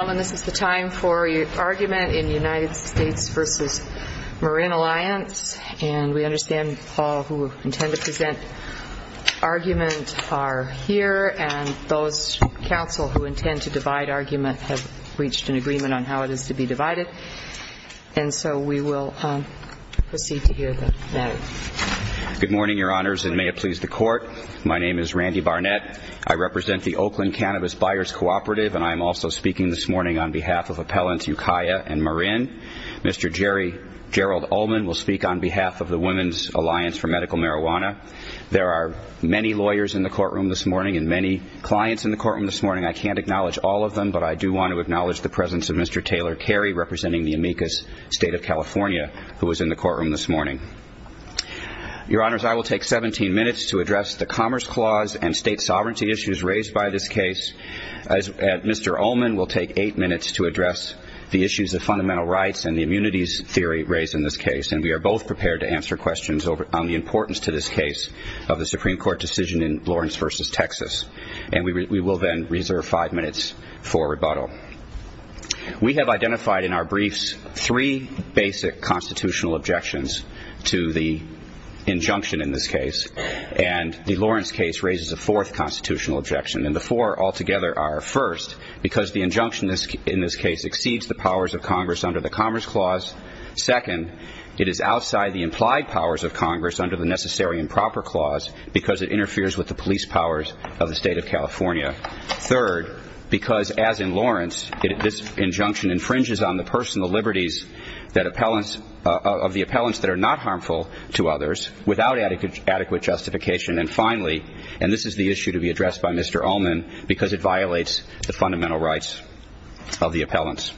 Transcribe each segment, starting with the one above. Gentlemen, this is the time for your argument in the United States v. Marin Alliance, and we understand all who intend to present argument are here, and those counsel who intend to divide argument have reached an agreement on how it is to be divided, and so we will proceed to hear the matter. Good morning, Your Honors, and may it please the Court. My name is Randy Barnett. I represent the Oakland Cannabis Buyers Cooperative, and I am also speaking this morning on behalf of Appellants Ukiah and Marin. Mr. Gerald Ullman will speak on behalf of the Women's Alliance for Medical Marijuana. There are many lawyers in the courtroom this morning and many clients in the courtroom this morning. I can't acknowledge all of them, but I do want to acknowledge the presence of Mr. Taylor Carey, representing the amicus State of California, who was in the courtroom this morning. Your Honors, I will take 17 minutes to address the Commerce Clause and state sovereignty issues raised by this case. Mr. Ullman will take eight minutes to address the issues of fundamental rights and the immunities theory raised in this case, and we are both prepared to answer questions on the importance to this case of the Supreme Court decision in Lawrence v. Texas, and we will then reserve five minutes for rebuttal. We have identified in our briefs three basic constitutional objections to the injunction in this case, and the Lawrence case raises a fourth constitutional objection, and the four all together are, first, because the injunction in this case exceeds the powers of Congress under the Commerce Clause. Second, it is outside the implied powers of Congress under the Necessary and Proper Clause because it interferes with the police powers of the State of California. Third, because as in Lawrence, this injunction infringes on the personal liberties of the appellants that are not harmful to others without adequate justification. And finally, and this is the issue to be addressed by Mr. Ullman, because it violates the fundamental rights of the appellants.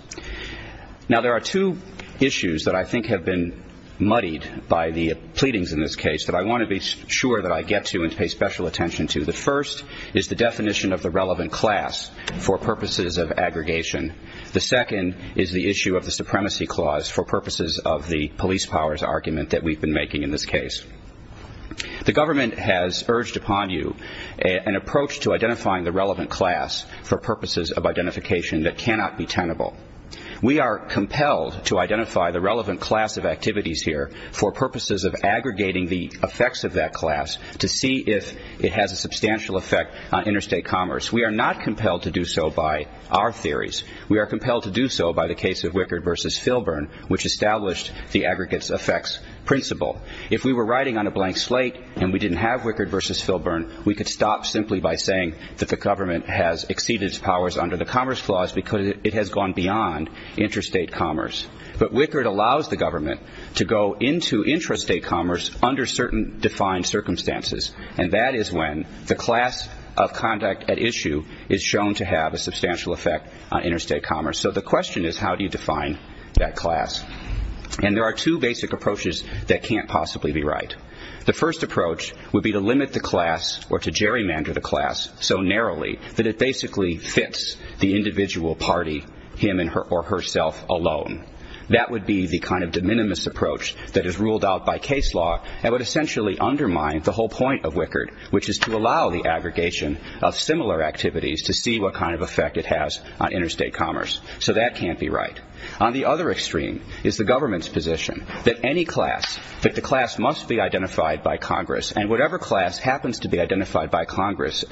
Now there are two issues that I think have been muddied by the pleadings in this case that I want to be sure that I get to and pay special attention to. The first is the definition of the relevant class for purposes of aggregation. The second is the issue of the Supremacy Clause for purposes of the police powers argument that we've been making in this case. The government has urged upon you an approach to identifying the relevant class for purposes of identification that cannot be tenable. We are compelled to identify the relevant class of activities here for purposes of aggregating the effects of that class to see if it has a substantial effect on interstate commerce. We are not compelled to do so by our theories. We are compelled to do so by the case of Wickard v. Filburn, which established the aggregates effects principle. If we were writing on a blank slate and we didn't have Wickard v. Filburn, we could stop simply by saying that the government has exceeded its powers under the Commerce Clause because it has gone beyond interstate commerce. But Wickard allows the government to go into intrastate commerce under certain defined circumstances, and that is when the class of conduct at issue is shown to have a substantial effect on interstate commerce. So the question is how do you define that class? And there are two basic approaches that can't possibly be right. The first approach would be to limit the class or to gerrymander the class so narrowly that it basically fits the individual party, him or herself alone. That would be the kind of de minimis approach that is ruled out by case law and would essentially undermine the whole point of Wickard, which is to allow the aggregation of similar activities to see what kind of effect it has on interstate commerce. So that can't be right. On the other extreme is the government's position that any class, that the class must be identified by Congress, and whatever class happens to be identified by Congress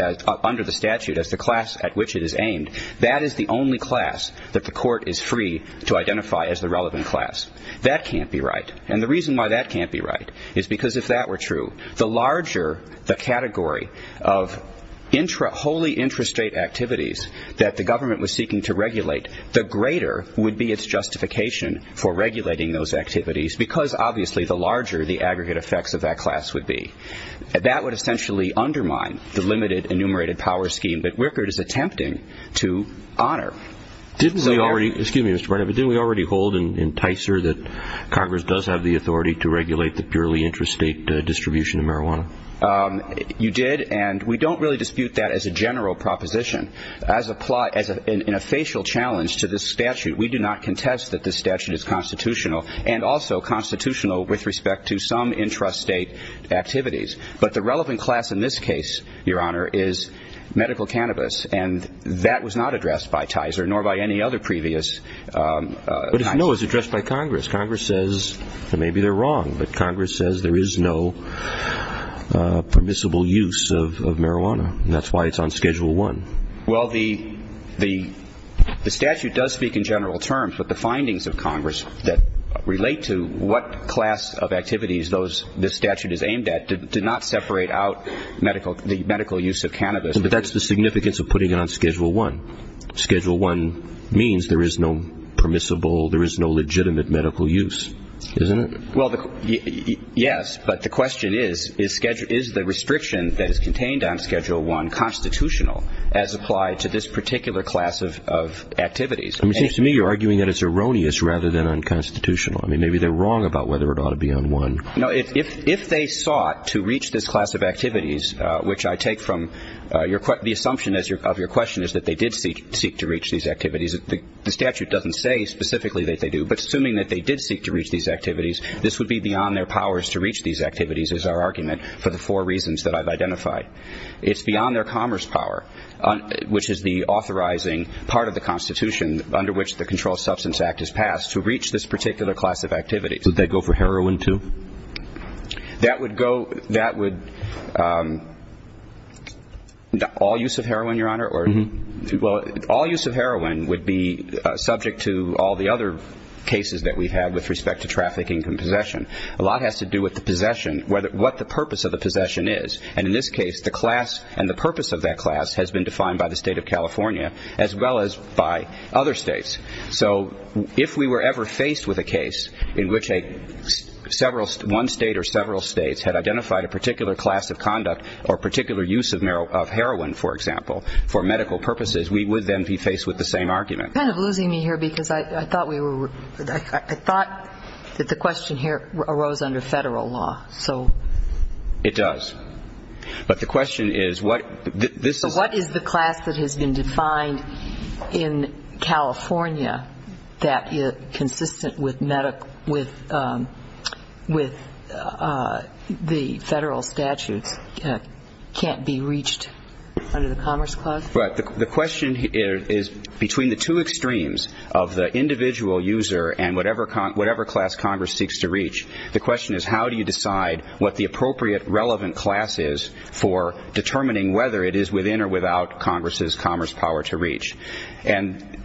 under the statute as the class at which it is aimed, that is the only class that the court is free to identify as the relevant class. That can't be right. And the reason why that can't be right is because if that were true, the larger the category of wholly intrastate activities that the government was seeking to regulate, the greater would be its justification for regulating those activities because obviously the larger the aggregate effects of that class would be. That would essentially undermine the limited enumerated power scheme that Wickard is attempting to honor. Didn't we already, excuse me Mr. Barnett, but didn't we already hold in TICER that Congress does have the authority to regulate the purely intrastate distribution of marijuana? You did, and we don't really dispute that as a general proposition. As in a facial challenge to this statute, we do not contest that this statute is constitutional, and also constitutional with respect to some intrastate activities. But the relevant class in this case, Your Honor, is medical cannabis, and that was not addressed by TICER, nor by any other previous But if no, it's addressed by Congress. Congress says that maybe they're wrong, but Congress says there is no permissible use of marijuana, and that's why it's on Schedule I. Well, the statute does speak in general terms, but the findings of Congress that relate to what class of activities this statute is aimed at did not separate out the medical use of cannabis. But that's the significance of putting it on Schedule I. Schedule I means there is no permissible, there is no legitimate medical use, isn't it? Well, yes, but the question is, is the restriction that is contained on Schedule I constitutional as applied to this particular class of activities? It seems to me you're arguing that it's erroneous rather than unconstitutional. I mean, maybe they're wrong about whether it ought to be on I. If they sought to reach this class of activities, which I take from the assumption of your question is that they did seek to reach these activities, the statute doesn't say specifically that they do, but assuming that they did seek to reach these activities, this would be beyond their powers to reach these activities is our argument for the four reasons that I've identified. It's beyond their commerce power, which is the authorizing part of the Constitution under which the Controlled Substance Act is passed to reach this particular class of activities. Would they go for heroin, too? That would go, that would, all use of heroin, Your Honor, or, well, all use of heroin would be subject to all the other cases that we've had with respect to trafficking and possession. A lot has to do with the possession, what the purpose of the possession is, and in this case the class and the purpose of that class has been defined by the State of California as well as by other states. So if we were ever faced with a case in which one state or several states had identified a particular class of conduct or particular use of heroin, for example, for medical purposes, we would then be faced with the same argument. You're kind of losing me here because I thought we were, I thought that the question here arose under federal law, so. It does. But the question is what this is. What is the class that has been defined in California that is consistent with the federal statutes can't be reached under the Commerce Clause? The question is between the two extremes of the individual user and whatever class Congress seeks to reach, the question is how do you decide what the appropriate relevant class is for determining whether it is within or without Congress's commerce power to reach. And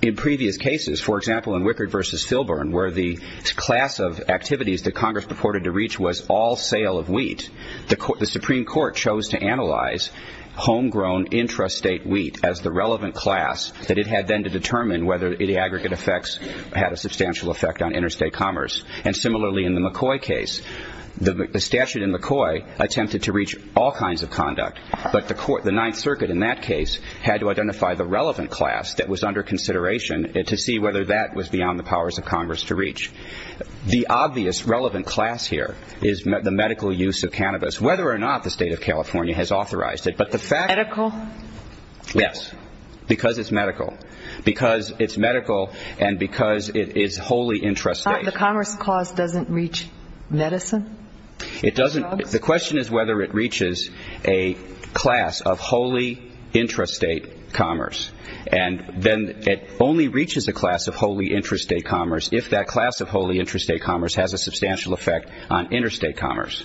in previous cases, for example, in Wickard v. Filburn, where the class of activities that Congress purported to reach was all sale of wheat, the Supreme Court chose to analyze homegrown intrastate wheat as the relevant class that it had then to determine whether the aggregate effects had a substantial effect on interstate commerce. And similarly in the McCoy case, the statute in McCoy attempted to reach all kinds of conduct, but the Ninth Circuit in that case had to identify the relevant class that was under consideration to see whether that was beyond the powers of Congress to reach. The obvious relevant class here is the medical use of cannabis, whether or not the state of California has authorized it, but the fact Medical? Yes. Because it's medical. Because it's medical and because it is wholly intrastate. The commerce cause doesn't reach medicine? It doesn't. The question is whether it reaches a class of wholly intrastate commerce. And then it only reaches a class of wholly intrastate commerce if that class of wholly intrastate commerce has a substantial effect on interstate commerce.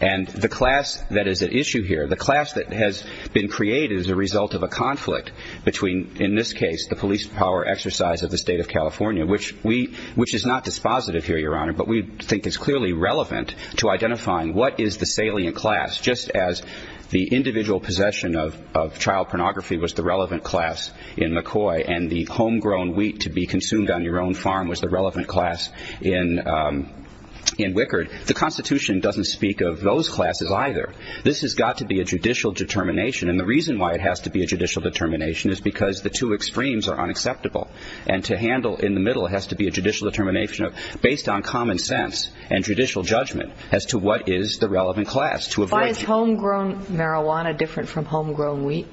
And the class that is at issue here, the class that has been created as a result of a conflict between, in this case, the police power exercise of the state of California, which we, which is not dispositive here, Your Honor, but we think is clearly relevant to identifying what is the salient class, just as the individual possession of child pornography was the relevant class in McCoy and the homegrown wheat to be consumed on your own farm was the relevant class in Wickard. The Constitution doesn't speak of those classes either. This has got to be a judicial determination and the reason why it has to be a judicial determination is because the two extremes are unacceptable. And to handle in the middle has to be a judicial determination of, based on common sense and judicial judgment as to what is the relevant class. Why is homegrown marijuana different from homegrown wheat?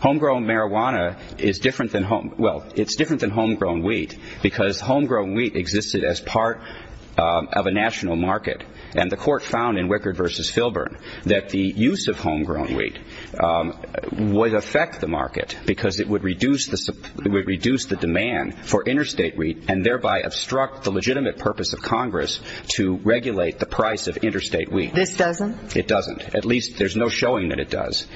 Homegrown marijuana is different than home, well, it's different than homegrown wheat because homegrown wheat existed as part of a national market and the court found in Wickard versus Filburn that the use of homegrown wheat would affect the market because it would reduce the, it would reduce the demand for interstate wheat and thereby obstruct the legitimate purpose of Congress to regulate the price of interstate wheat. This doesn't? It doesn't. At least, there's no showing that it does.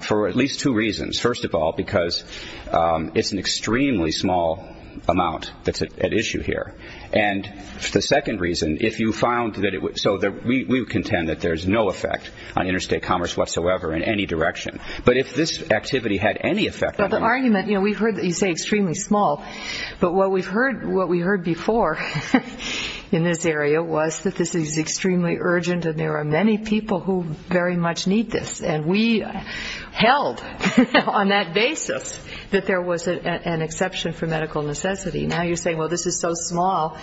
For at least two reasons. First of all, because it's an extremely small amount that's at issue here. And the second reason, if you found that it would, so we contend that there's no effect on interstate commerce whatsoever in any direction. But if this activity had any effect on the market. But the argument, you know, we've heard that you say extremely small, but what we've heard, what we heard before in this area was that this is extremely urgent and there are many people who very much need this. And we held on that basis that there was an exception for medical necessity. Now you're saying, well, this is so small,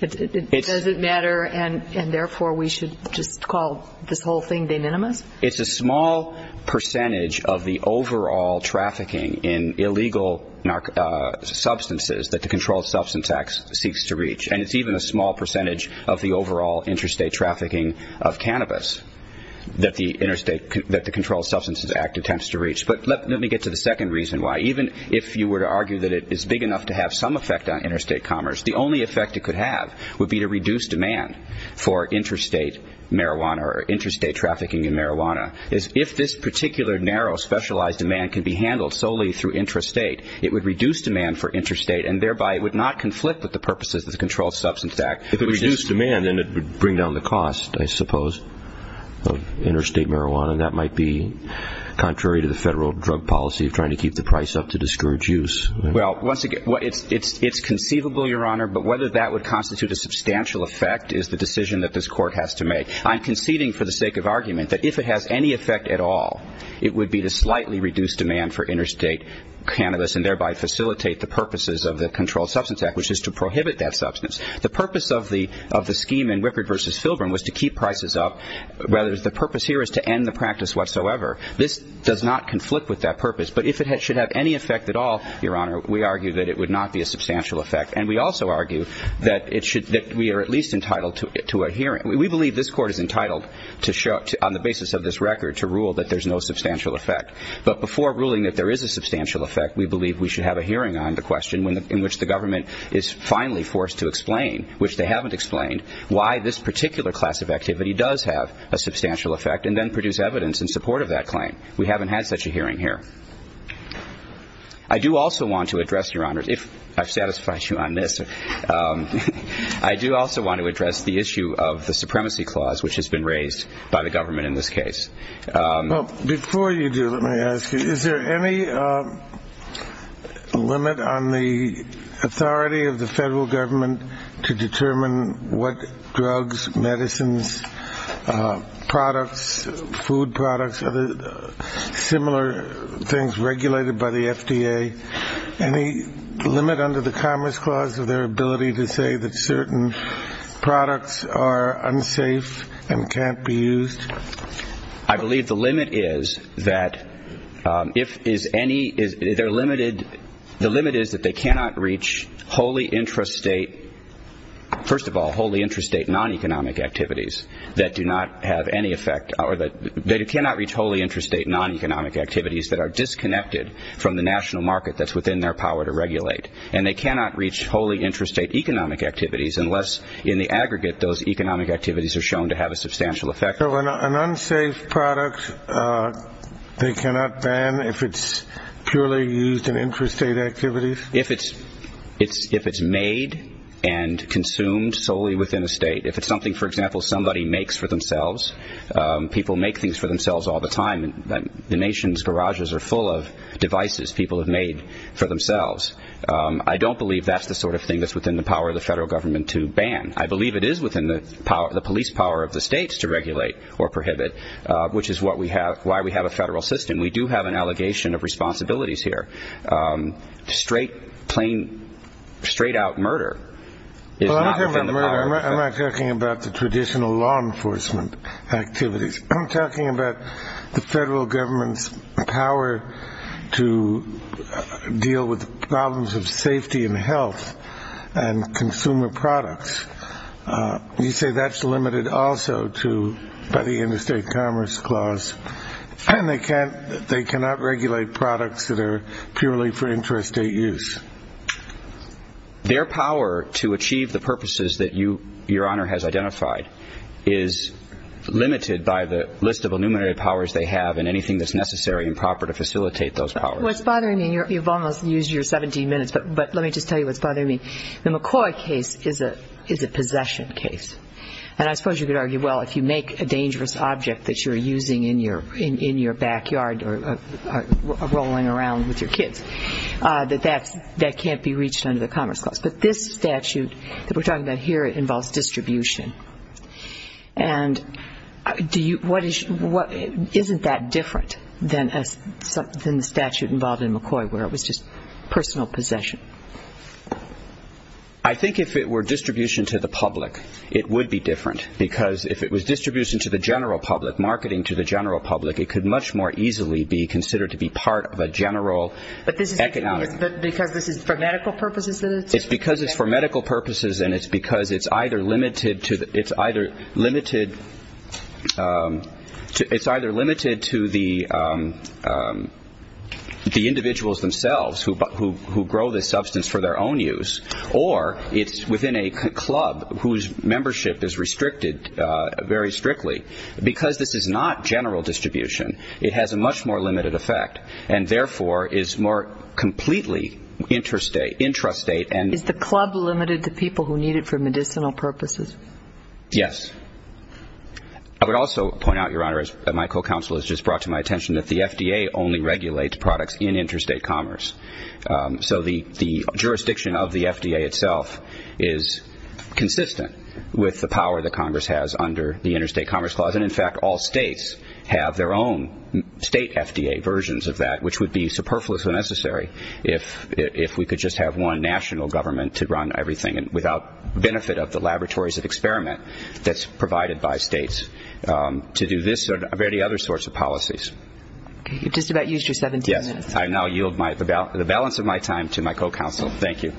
it doesn't matter and therefore we should just call this whole thing de minimis? It's a small percentage of the overall trafficking in illegal substances that the Controlled Substances Act seeks to reach. And it's even a small percentage of the overall interstate trafficking of cannabis that the Interstate, that the Controlled Substances Act attempts to reach. But let me get to the second reason why. Even if you were to argue that it is big enough to have some effect on interstate commerce, the only effect it could have would be to reduce demand for interstate marijuana or interstate trafficking in marijuana. If this particular narrow specialized demand could be handled solely through intrastate, it would reduce demand for interstate and thereby it would not conflict with the purposes of the Controlled Substances Act. If it reduced demand, then it would bring down the cost, I suppose, of interstate marijuana. And that might be contrary to the federal drug policy of trying to keep the price up to discourage use. Well, once again, it's conceivable, Your Honor, but whether that would constitute a substantial effect is the decision that this Court has to make. I'm conceding for the sake of argument that if it has any effect at all, it would be to slightly reduce demand for interstate cannabis and thereby facilitate the purposes of the Controlled Substances Act, which is to prohibit that substance. The purpose of the scheme in Whippord v. Filburn was to keep prices up. The purpose here is to end the practice whatsoever. This does not conflict with that purpose. But if it should have any effect at all, Your Honor, we argue that it would not be a substantial effect. And we also argue that we are at least entitled to a hearing. We believe this Court is entitled on the basis of this record to rule that there's no substantial effect. But before ruling that there is a substantial effect, we believe we should have a hearing on the question in which the government is finally forced to explain, which they haven't explained, why this particular class of activity does have a substantial effect and then produce evidence in support of that claim. We haven't had such a hearing here. I do also want to address, Your Honor, if I've satisfied you on this, I do also want to address the issue of the supremacy clause which has been raised by the government in this case. Well, before you do, let me ask you, is there any limit on the authority of the federal government to determine what drugs, medicines, products, food products, similar things regulated by the FDA, any limit under the Commerce Clause of their ability to say that certain products are unsafe and can't be used? I believe the limit is that they cannot reach wholly intrastate, first of all, wholly intrastate non-economic activities that do not have any effect or that they cannot reach wholly intrastate non-economic activities that are disconnected from the national market that's within their power to regulate. And they cannot reach wholly intrastate economic activities unless in the aggregate those economic activities are shown to have a substantial effect. So an unsafe product, they cannot ban if it's purely used in intrastate activities? If it's made and consumed solely within the state. If it's something, for example, somebody makes for themselves, people make things for themselves all the time. The nation's garages are full of devices people have made for themselves. I don't believe that's the sort of thing that's within the power of the federal government to ban. I believe it is within the police power of the states to regulate or prohibit, which is what we have, why we have a federal system. We do have an allegation of responsibilities here. Straight plain, straight out murder is not within the power of the state. I'm not talking about the traditional law enforcement activities. I'm talking about the federal government's power to deal with the problems of safety and health and consumer products. You say that's limited also to the interstate commerce clause. And they cannot regulate products that are purely for intrastate use. Their power to achieve the purposes that your honor has identified is limited by the list of enumerated powers they have and anything that's necessary and proper to facilitate those powers. What's bothering me, you've almost used your 17 minutes, but let me just tell you what's a possession case. And I suppose you could argue, well, if you make a dangerous object that you're using in your backyard or rolling around with your kids, that that can't be reached under the commerce clause. But this statute that we're talking about here, it involves distribution. And isn't that different than the statute involved in McCoy where it was just personal possession? I think if it were distribution to the public, it would be different. Because if it was distribution to the general public, marketing to the general public, it could much more easily be considered to be part of a general economic. Because this is for medical purposes? It's because it's for medical purposes and it's because it's either limited to the individuals themselves who grow this substance for their own use or it's within a club whose membership is restricted very strictly. Because this is not general distribution, it has a much more limited effect and therefore is more completely intrastate. Is the club limited to people who need it for medicinal purposes? Yes. I would also point out, Your Honor, as my co-counsel has just brought to my attention, that the FDA only regulates products in interstate commerce. So the jurisdiction of the FDA itself is consistent with the power that Congress has under the interstate commerce clause. And in fact, all states have their own state FDA versions of that, which would be superfluous when necessary if we could just have one national government to run everything without benefit of the laboratories of experiment that's provided by states to do this or any other sorts of You've just about used your 17 minutes. Yes. I now yield the balance of my time to my co-counsel. Thank you.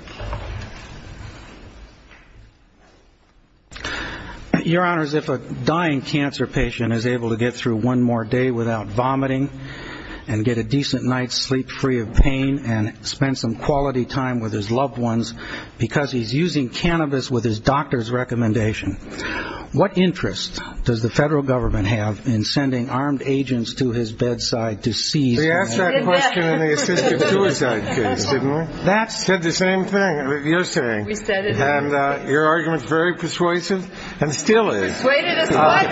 Your Honors, if a dying cancer patient is able to get through one more day without vomiting and get a decent night's sleep free of pain and spend some quality time with his loved ones because he's using cannabis with his doctor's recommendation, what interest does the federal government have in sending armed agents to his bedside to seize him? We asked that question in the assisted suicide case, didn't we? Said the same thing you're saying. And your argument's very persuasive and still is. Persuaded us what?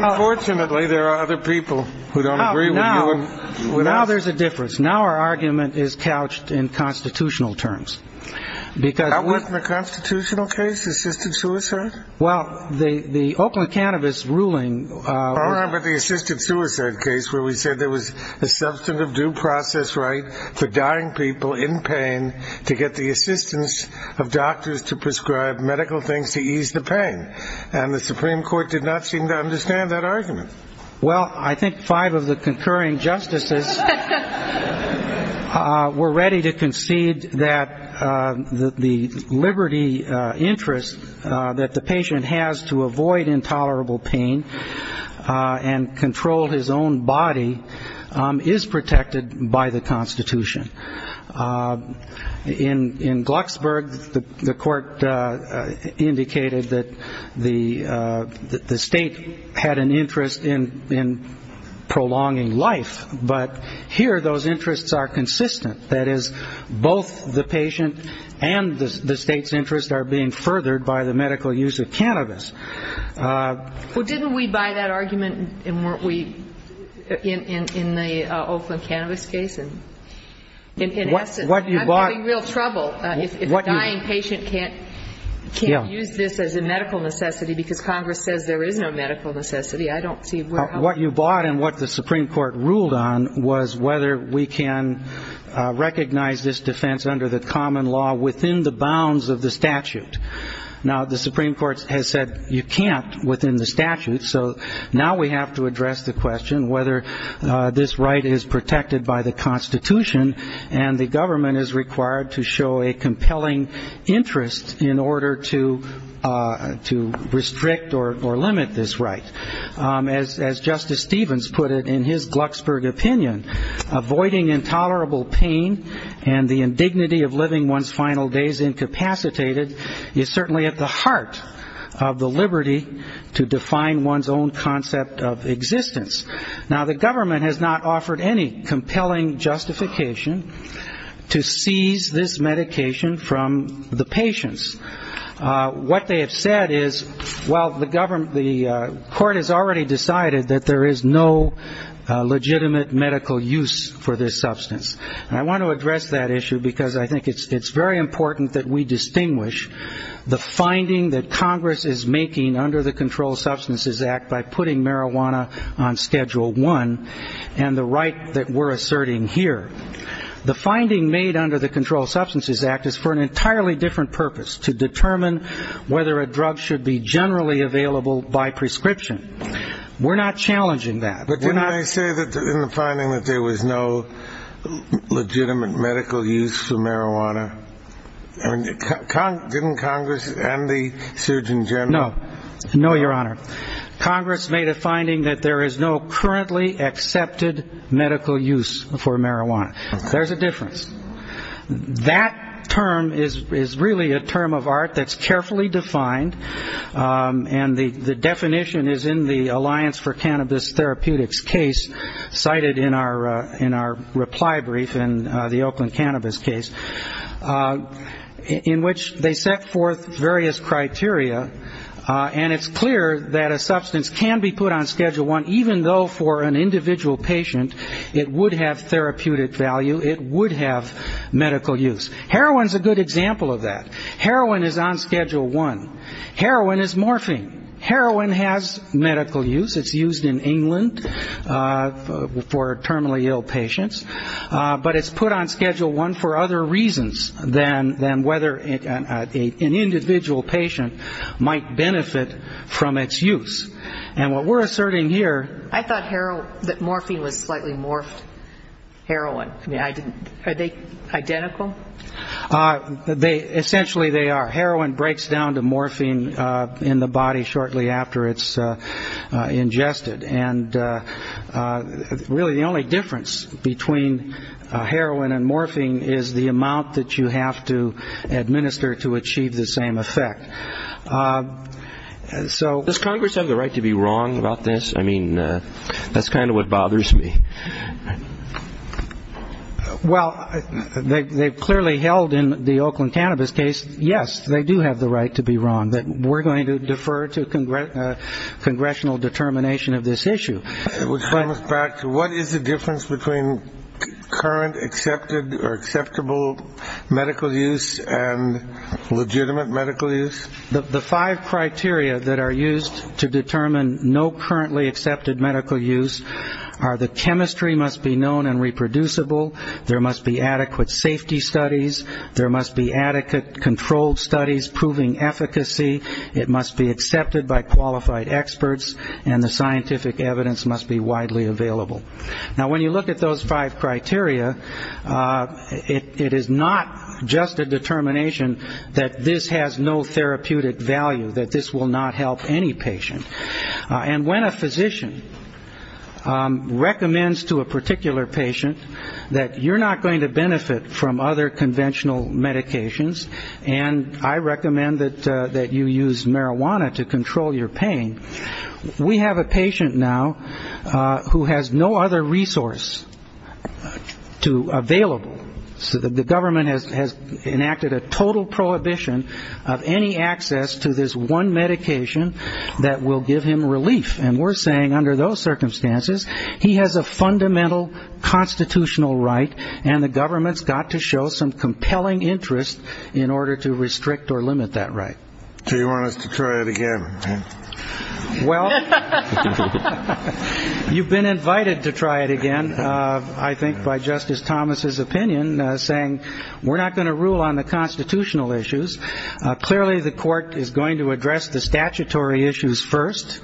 Unfortunately, there are other people who don't agree with you. Now there's a difference. Now our argument is couched in constitutional terms. That wasn't a constitutional case, assisted suicide? Well, the Oakland cannabis ruling. But the assisted suicide case where we said there was a substantive due process right for dying people in pain to get the assistance of doctors to prescribe medical things to ease the pain. And the Supreme Court did not seem to understand that argument. Well, I think five of the concurring justices were ready to concede that the liberty interest that the patient has to avoid intolerable pain and control his own body is protected by the Constitution. In Glucksburg, the court indicated that the state had an interest in prolonging life, but here those interests are consistent. That is, both the patient and the state's interests are being furthered by the medical use of cannabis. Well, didn't we buy that argument in the Oakland cannabis case? In essence, I'm having real trouble if a dying patient can't use this as a medical necessity because Congress says there is no medical necessity. What you bought and what the Supreme Court ruled on was whether we can recognize this defense under the common law within the bounds of the statute. Now, the Supreme Court has said you can't within the statute, so now we have to address the question whether this right is protected by the Constitution and the government is required to show a compelling interest in order to restrict or limit this right. As Justice Stevens put it in his Glucksburg opinion, avoiding intolerable pain and the indignity of living one's final days incapacitated is certainly at the heart of the liberty to define one's own concept of existence. Now, the government has not offered any compelling justification to seize this medication from the patients. What they have said is, well, the court has already decided that there is no legitimate medical use for this substance. And I want to address that issue because I think it's very important that we distinguish the finding that Congress is making under the Controlled Substances Act by putting marijuana on Schedule I and the right that we're asserting here. The finding made under the Controlled Substances Act is for an entirely different purpose, to determine whether a drug should be generally available by prescription. We're not challenging that. But didn't they say in the finding that there was no legitimate medical use for marijuana? Didn't Congress and the surgeon general? No. No, Your Honor. Congress made a finding that there is no currently accepted medical use for marijuana. There's a difference. That term is really a term of art that's carefully defined, and the definition is in the Alliance for Cannabis Therapeutics case cited in our reply brief in the Oakland Cannabis case. In which they set forth various criteria, and it's clear that a substance can be put on Schedule I, even though for an individual patient it would have therapeutic value, it would have medical use. Heroin is a good example of that. Heroin is on Schedule I. Heroin is morphine. Heroin has medical use. It's used in England for terminally ill patients. But it's put on Schedule I for other reasons than whether an individual patient might benefit from its use. And what we're asserting here --. I thought that morphine was slightly morphed heroin. Are they identical? Essentially they are. Heroin breaks down to morphine in the body shortly after it's ingested. And really the only difference between heroin and morphine is the amount that you have to administer to achieve the same effect. Does Congress have the right to be wrong about this? I mean, that's kind of what bothers me. Well, they've clearly held in the Oakland Cannabis case, yes, they do have the right to be wrong. But we're going to defer to congressional determination of this issue. Which brings us back to what is the difference between current accepted or acceptable medical use and legitimate medical use? The five criteria that are used to determine no currently accepted medical use are that chemistry must be known and reproducible, there must be adequate safety studies, there must be adequate controlled studies proving efficacy, it must be accepted by qualified experts, and the scientific evidence must be widely available. Now, when you look at those five criteria, it is not just a determination that this has no therapeutic value, that this will not help any patient. And when a physician recommends to a particular patient that you're not going to benefit from other conventional medications and I recommend that you use marijuana to control your pain, we have a patient now who has no other resource available. So the government has enacted a total prohibition of any access to this one medication that will give him relief. And we're saying under those circumstances, he has a fundamental constitutional right and the government's got to show some compelling interest in order to restrict or limit that right. So you want us to try it again? Well, you've been invited to try it again, I think, by Justice Thomas's opinion, saying we're not going to rule on the constitutional issues. Clearly, the court is going to address the statutory issues first.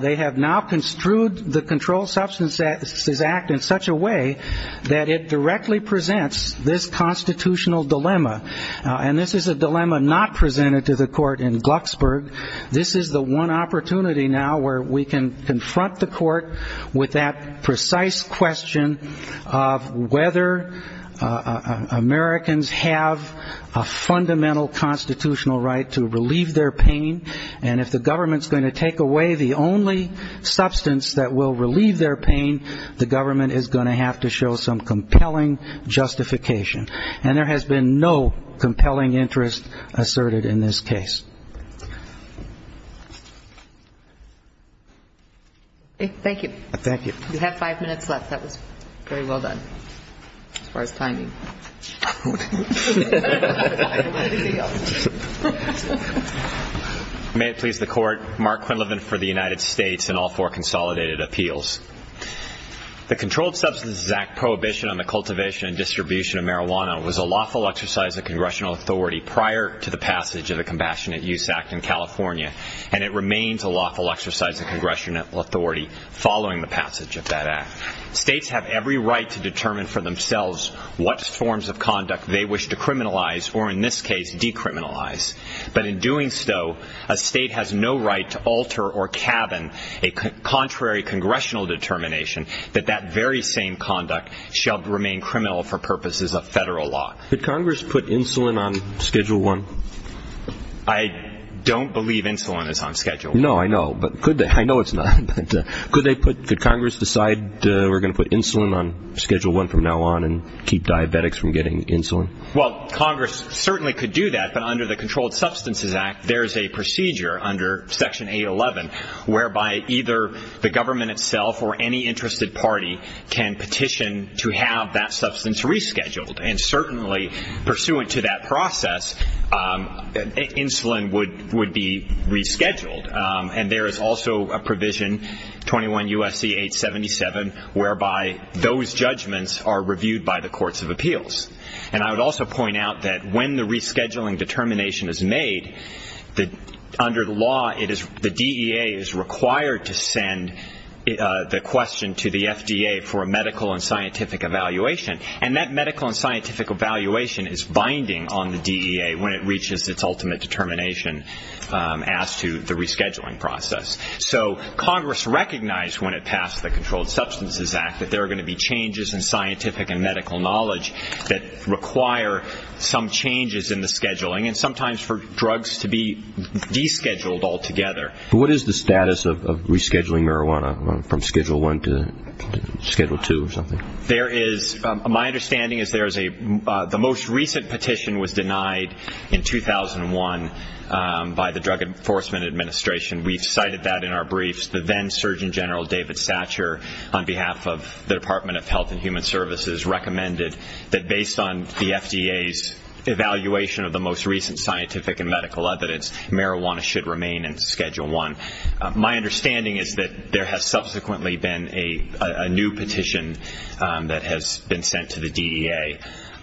They have now construed the Controlled Substances Act in such a way that it directly presents this constitutional dilemma. And this is a dilemma not presented to the court in Glucksburg. This is the one opportunity now where we can confront the court with that precise question of whether Americans have a fundamental constitutional right to relieve their pain. And if the government's going to take away the only substance that will relieve their pain, the government is going to have to show some compelling justification. And there has been no compelling interest asserted in this case. Thank you. Thank you. You have five minutes left. That was very well done as far as timing. May it please the Court. Mark Quinlivan for the United States and all four consolidated appeals. The Controlled Substances Act prohibition on the cultivation and distribution of marijuana was a lawful exercise of congressional authority prior to the passage of the Compassionate Use Act in California, and it remains a lawful exercise of congressional authority following the passage of that act. States have every right to determine for themselves what forms of conduct they wish to criminalize or, in this case, decriminalize. But in doing so, a state has no right to alter or cabin a contrary congressional determination that that very same conduct shall remain criminal for purposes of federal law. Did Congress put insulin on Schedule I? I don't believe insulin is on Schedule I. No, I know, but could they? I know it's not, but could Congress decide we're going to put insulin on Schedule I from now on and keep diabetics from getting insulin? Well, Congress certainly could do that, but under the Controlled Substances Act, there is a procedure under Section 811 whereby either the government itself or any interested party can petition to have that substance rescheduled. And certainly, pursuant to that process, insulin would be rescheduled. And there is also a provision, 21 U.S.C. 877, whereby those judgments are reviewed by the Courts of Appeals. And I would also point out that when the rescheduling determination is made, under the law the DEA is required to send the question to the FDA for a medical and scientific evaluation, and that medical and scientific evaluation is binding on the DEA when it reaches its ultimate determination as to the rescheduling process. So Congress recognized when it passed the Controlled Substances Act that there are going to be changes in scientific and medical knowledge that require some changes in the scheduling and sometimes for drugs to be descheduled altogether. What is the status of rescheduling marijuana from Schedule I to Schedule II or something? My understanding is the most recent petition was denied in 2001 by the Drug Enforcement Administration. We've cited that in our briefs. The then Surgeon General David Satcher, on behalf of the Department of Health and Human Services, recommended that based on the FDA's evaluation of the most recent scientific and medical evidence, marijuana should remain in Schedule I. My understanding is that there has subsequently been a new petition that has been sent to the DEA.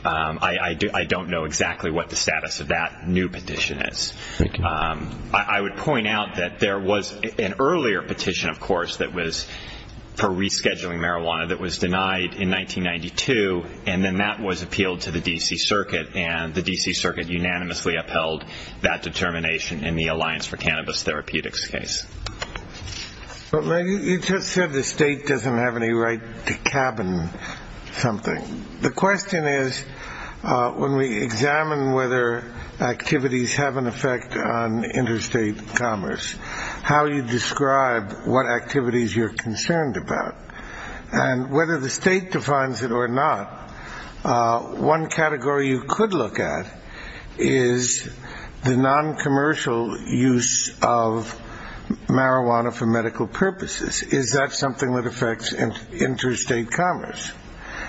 I don't know exactly what the status of that new petition is. I would point out that there was an earlier petition, of course, that was for rescheduling marijuana that was denied in 1992, and then that was appealed to the D.C. Circuit, and the D.C. Circuit unanimously upheld that determination in the Alliance for Cannabis Therapeutics case. You just said the state doesn't have any right to cabin something. The question is when we examine whether activities have an effect on interstate commerce, how you describe what activities you're concerned about and whether the state defines it or not, one category you could look at is the noncommercial use of marijuana for medical purposes. Is that something that affects interstate commerce?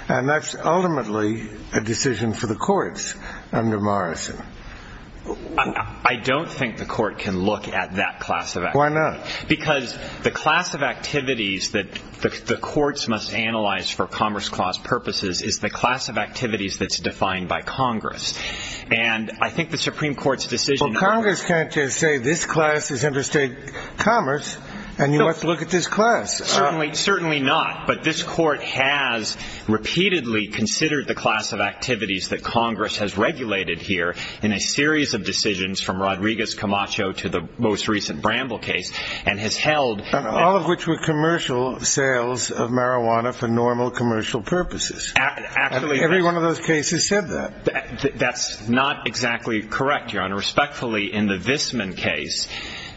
And that's ultimately a decision for the courts under Morrison. I don't think the court can look at that class of activity. Why not? Because the class of activities that the courts must analyze for commerce clause purposes is the class of activities that's defined by Congress. And I think the Supreme Court's decision— Well, Congress can't just say this class is interstate commerce and you have to look at this class. Certainly not. But this court has repeatedly considered the class of activities that Congress has regulated here in a series of decisions from Rodriguez-Camacho to the most recent Bramble case, and has held— All of which were commercial sales of marijuana for normal commercial purposes. Every one of those cases said that. That's not exactly correct, Your Honor. Respectfully, in the Visman case,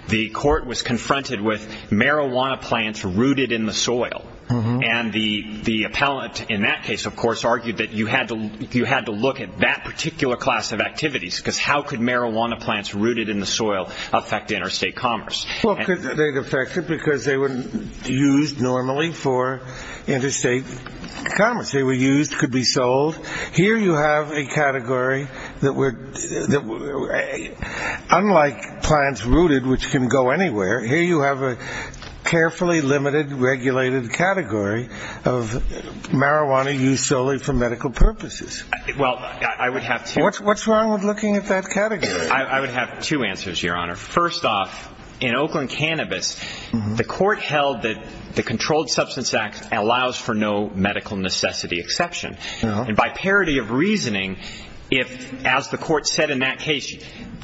the court was confronted with marijuana plants rooted in the soil. And the appellant in that case, of course, argued that you had to look at that particular class of activities because how could marijuana plants rooted in the soil affect interstate commerce? Well, they'd affect it because they were used normally for interstate commerce. They were used, could be sold. Here you have a category that would—unlike plants rooted, which can go anywhere, here you have a carefully limited, regulated category of marijuana used solely for medical purposes. Well, I would have to— What's wrong with looking at that category? I would have two answers, Your Honor. First off, in Oakland Cannabis, the court held that the Controlled Substance Act allows for no medical necessity exception. And by parity of reasoning, as the court said in that case,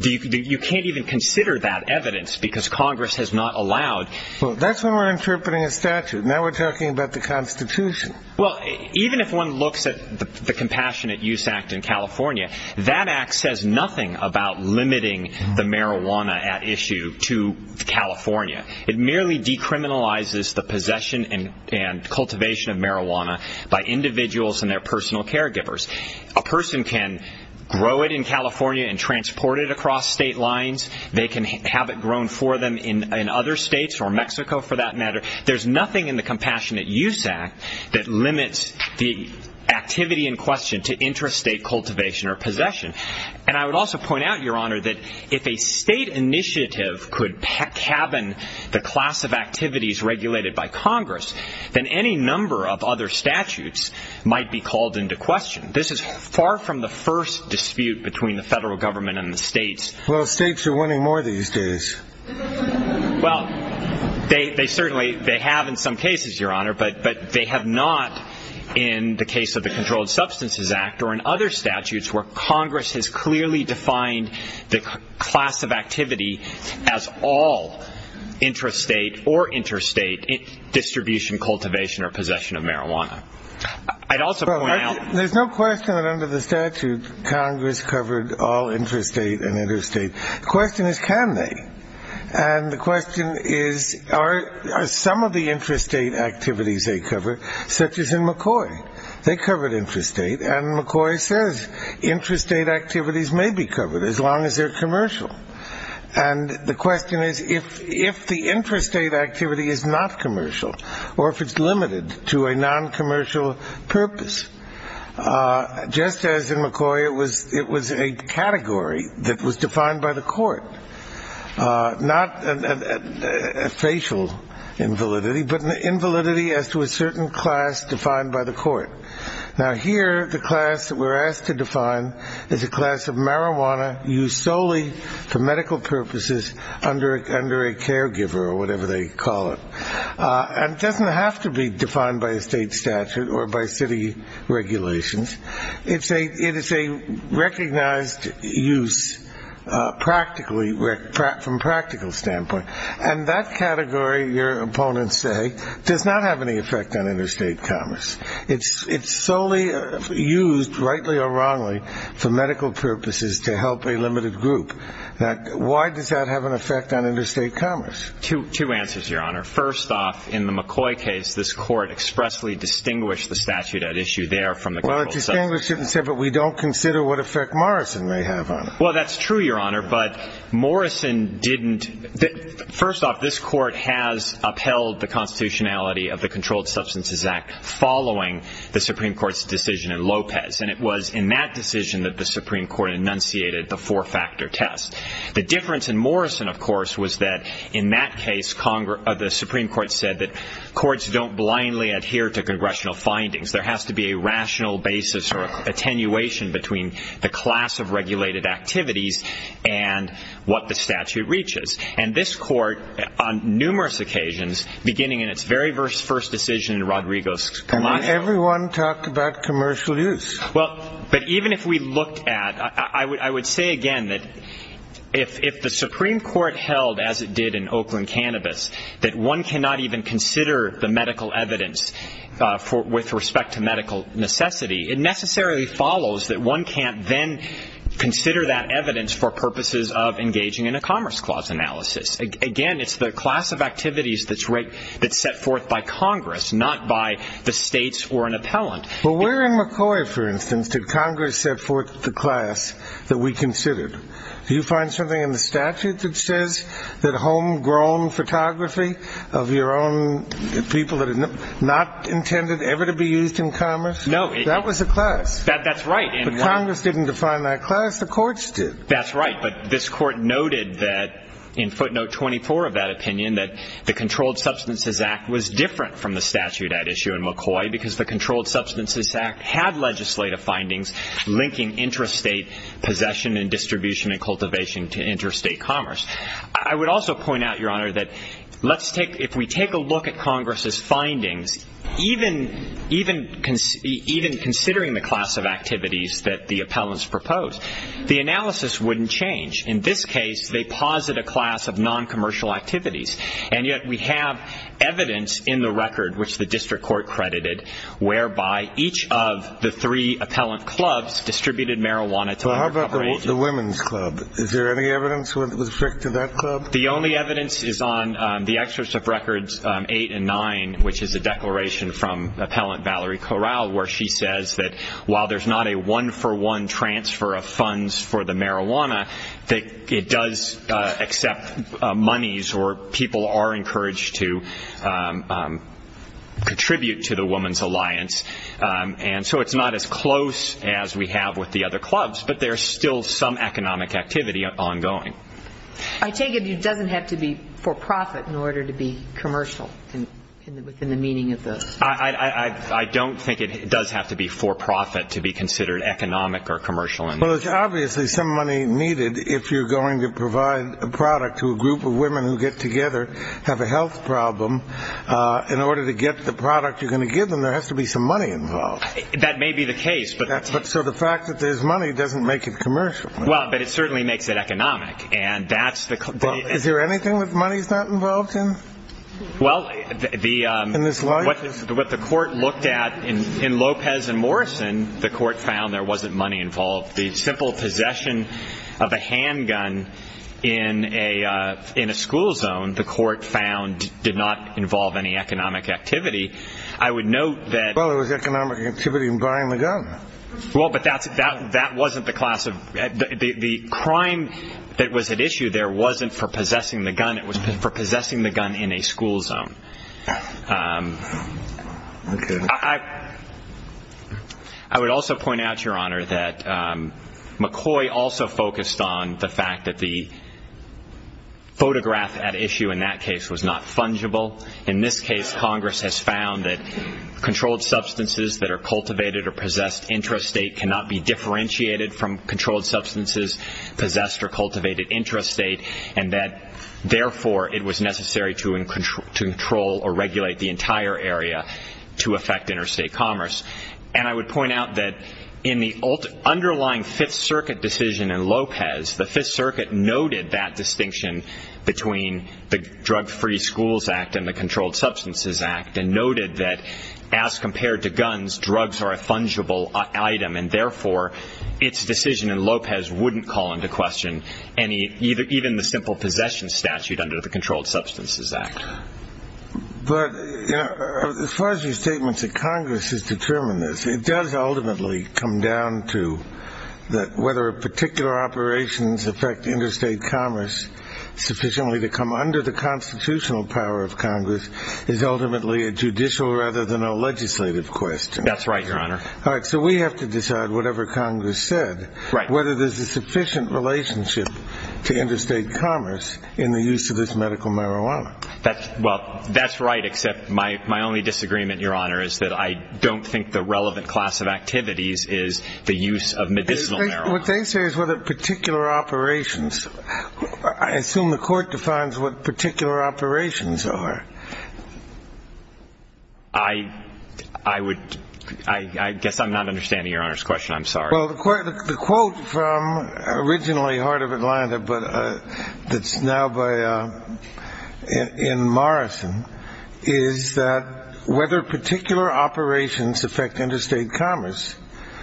you can't even consider that evidence because Congress has not allowed— Well, that's when we're interpreting a statute. Now we're talking about the Constitution. Well, even if one looks at the Compassionate Use Act in California, that act says nothing about limiting the marijuana at issue to California. It merely decriminalizes the possession and cultivation of marijuana by individuals and their personal caregivers. A person can grow it in California and transport it across state lines. They can have it grown for them in other states or Mexico, for that matter. There's nothing in the Compassionate Use Act that limits the activity in question to intrastate cultivation or possession. And I would also point out, Your Honor, that if a state initiative could cabin the class of activities regulated by Congress, then any number of other statutes might be called into question. This is far from the first dispute between the federal government and the states. Well, states are winning more these days. Well, they certainly have in some cases, Your Honor, but they have not in the case of the Controlled Substances Act or in other statutes where Congress has clearly defined the class of activity as all intrastate or interstate distribution, cultivation, or possession of marijuana. I'd also point out— There's no question that under the statute, Congress covered all intrastate and interstate. The question is, can they? And the question is, are some of the intrastate activities they cover, such as in McCoy? They covered intrastate, and McCoy says intrastate activities may be covered as long as they're commercial. And the question is, if the intrastate activity is not commercial or if it's limited to a noncommercial purpose, just as in McCoy it was a category that was defined by the court, not a facial invalidity but an invalidity as to a certain class defined by the court. Now, here the class that we're asked to define is a class of marijuana used solely for medical purposes under a caregiver or whatever they call it. And it doesn't have to be defined by a state statute or by city regulations. It is a recognized use from a practical standpoint. And that category, your opponents say, does not have any effect on interstate commerce. It's solely used, rightly or wrongly, for medical purposes to help a limited group. Why does that have an effect on interstate commerce? Two answers, Your Honor. First off, in the McCoy case, this court expressly distinguished the statute at issue there from the controlled substance. Well, it distinguished it and said, but we don't consider what effect Morrison may have on it. Well, that's true, Your Honor, but Morrison didn't. First off, this court has upheld the constitutionality of the Controlled Substances Act following the Supreme Court's decision in Lopez. And it was in that decision that the Supreme Court enunciated the four-factor test. The difference in Morrison, of course, was that in that case the Supreme Court said that courts don't blindly adhere to congressional findings. There has to be a rational basis or attenuation between the class of regulated activities and what the statute reaches. And this court, on numerous occasions, beginning in its very first decision in Rodriguez-Camacho. And then everyone talked about commercial use. Well, but even if we looked at, I would say again that if the Supreme Court held, as it did in Oakland Cannabis, that one cannot even consider the medical evidence with respect to medical necessity, it necessarily follows that one can't then consider that evidence for purposes of engaging in a Commerce Clause analysis. Again, it's the class of activities that's set forth by Congress, not by the states or an appellant. Well, where in McCoy, for instance, did Congress set forth the class that we considered? Do you find something in the statute that says that homegrown photography of your own people that are not intended ever to be used in commerce? No. That was a class. That's right. But Congress didn't define that class. The courts did. That's right. But this court noted that in footnote 24 of that opinion that the Controlled Substances Act was different from the statute at issue in McCoy because the Controlled Substances Act had legislative findings linking interstate possession and distribution and cultivation to interstate commerce. I would also point out, Your Honor, that if we take a look at Congress's findings, even considering the class of activities that the appellants propose, the analysis wouldn't change. In this case, they posit a class of noncommercial activities. And yet we have evidence in the record, which the district court credited, whereby each of the three appellant clubs distributed marijuana to underprivileged. How about the women's club? Is there any evidence with respect to that club? The only evidence is on the extras of records 8 and 9, which is a declaration from appellant Valerie Corral, where she says that while there's not a one-for-one transfer of funds for the marijuana, it does accept monies or people are encouraged to contribute to the women's alliance. And so it's not as close as we have with the other clubs, but there's still some economic activity ongoing. I take it it doesn't have to be for profit in order to be commercial within the meaning of the ---- I don't think it does have to be for profit to be considered economic or commercial. Well, it's obviously some money needed if you're going to provide a product to a group of women who get together, have a health problem. In order to get the product you're going to give them, there has to be some money involved. That may be the case. But so the fact that there's money doesn't make it commercial. Well, but it certainly makes it economic, and that's the ---- Is there anything that money's not involved in? Well, the ---- In this life? What the court looked at in Lopez and Morrison, the court found there wasn't money involved. The simple possession of a handgun in a school zone, the court found, did not involve any economic activity. I would note that ---- Well, there was economic activity in buying the gun. Well, but that wasn't the class of ---- The crime that was at issue there wasn't for possessing the gun. It was for possessing the gun in a school zone. Okay. I would also point out, Your Honor, that McCoy also focused on the fact that the photograph at issue in that case was not fungible. In this case, Congress has found that controlled substances that are cultivated or possessed intrastate cannot be differentiated from controlled substances possessed or cultivated intrastate, and that, therefore, it was necessary to control or regulate the entire area to affect interstate commerce. And I would point out that in the underlying Fifth Circuit decision in Lopez, the Fifth Circuit noted that distinction between the Drug-Free Schools Act and the Controlled Substances Act and noted that as compared to guns, drugs are a fungible item, and, therefore, its decision in Lopez wouldn't call into question even the simple possession statute under the Controlled Substances Act. But, you know, as far as your statements that Congress has determined this, it does ultimately come down to that whether particular operations affect interstate commerce sufficiently to come under the constitutional power of Congress is ultimately a judicial rather than a legislative question. That's right, Your Honor. All right, so we have to decide, whatever Congress said, whether there's a sufficient relationship to interstate commerce in the use of this medical marijuana. Well, that's right, except my only disagreement, Your Honor, is that I don't think the relevant class of activities is the use of medicinal marijuana. What they say is whether particular operations. I assume the Court defines what particular operations are. I guess I'm not understanding Your Honor's question. I'm sorry. Well, the quote from originally Heart of Atlanta, but that's now in Morrison, is that whether particular operations affect interstate commerce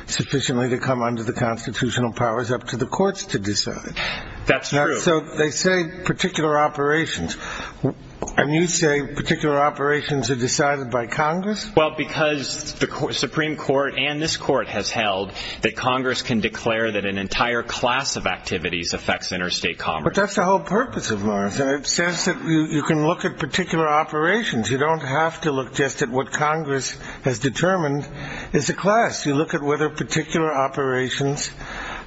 sufficiently to come under the constitutional powers up to the courts to decide. That's true. So they say particular operations. And you say particular operations are decided by Congress? Well, because the Supreme Court and this court has held that Congress can declare that an entire class of activities affects interstate commerce. But that's the whole purpose of Morrison. It says that you can look at particular operations. You don't have to look just at what Congress has determined is a class. You look at whether particular operations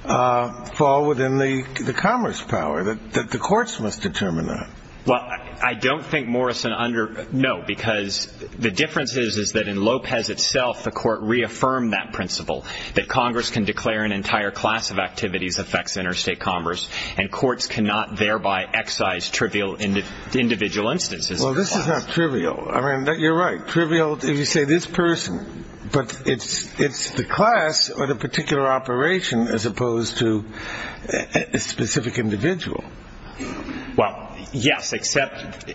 fall within the commerce power that the courts must determine that. Well, I don't think Morrison under no, because the difference is that in Lopez itself the court reaffirmed that principle, that Congress can declare an entire class of activities affects interstate commerce, and courts cannot thereby excise trivial individual instances. Well, this is not trivial. I mean, you're right. Trivial if you say this person. But it's the class or the particular operation as opposed to a specific individual. Well, yes, except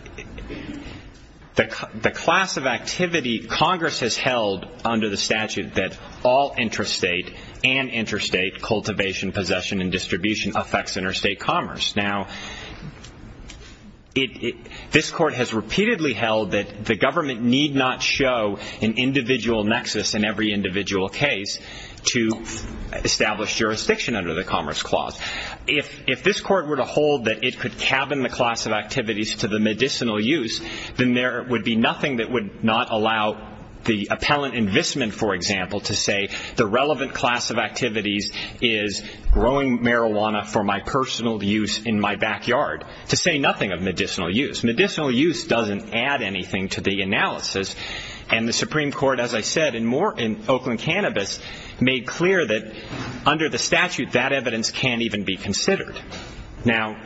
the class of activity Congress has held under the statute that all interstate and interstate cultivation, possession, and distribution affects interstate commerce. Now, this court has repeatedly held that the government need not show an individual nexus in every individual case to establish jurisdiction under the Commerce Clause. If this court were to hold that it could cabin the class of activities to the medicinal use, then there would be nothing that would not allow the appellant in Vismond, for example, to say the relevant class of activities is growing marijuana for my personal use in my backyard, to say nothing of medicinal use. Medicinal use doesn't add anything to the analysis. And the Supreme Court, as I said, in Oakland Cannabis, made clear that under the statute that evidence can't even be considered. Now,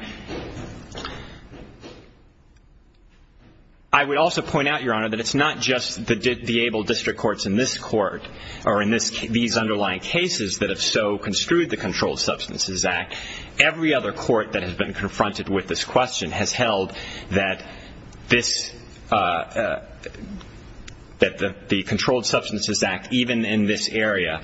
I would also point out, Your Honor, that it's not just the able district courts in this court or in these underlying cases that have so construed the Controlled Substances Act. Every other court that has been confronted with this question has held that the Controlled Substances Act, even in this area,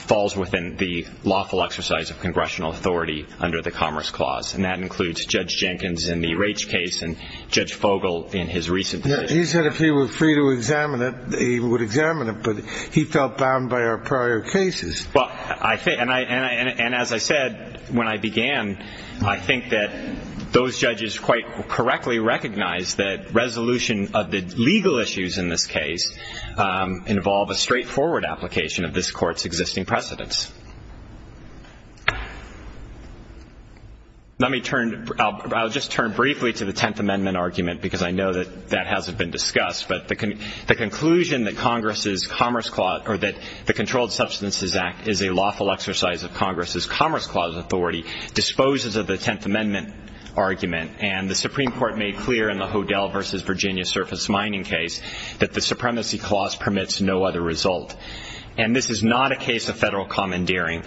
falls within the lawful exercise of congressional authority under the Commerce Clause. And that includes Judge Jenkins in the Raich case and Judge Fogel in his recent position. He said if he were free to examine it, he would examine it. But he felt bound by our prior cases. And as I said when I began, I think that those judges quite correctly recognize that resolution of the legal issues in this case involve a straightforward application of this court's existing precedents. I'll just turn briefly to the Tenth Amendment argument because I know that that hasn't been discussed. But the conclusion that the Controlled Substances Act is a lawful exercise of Congress's Commerce Clause authority disposes of the Tenth Amendment argument. And the Supreme Court made clear in the Hodel versus Virginia surface mining case that the supremacy clause permits no other result. And this is not a case of federal commandeering.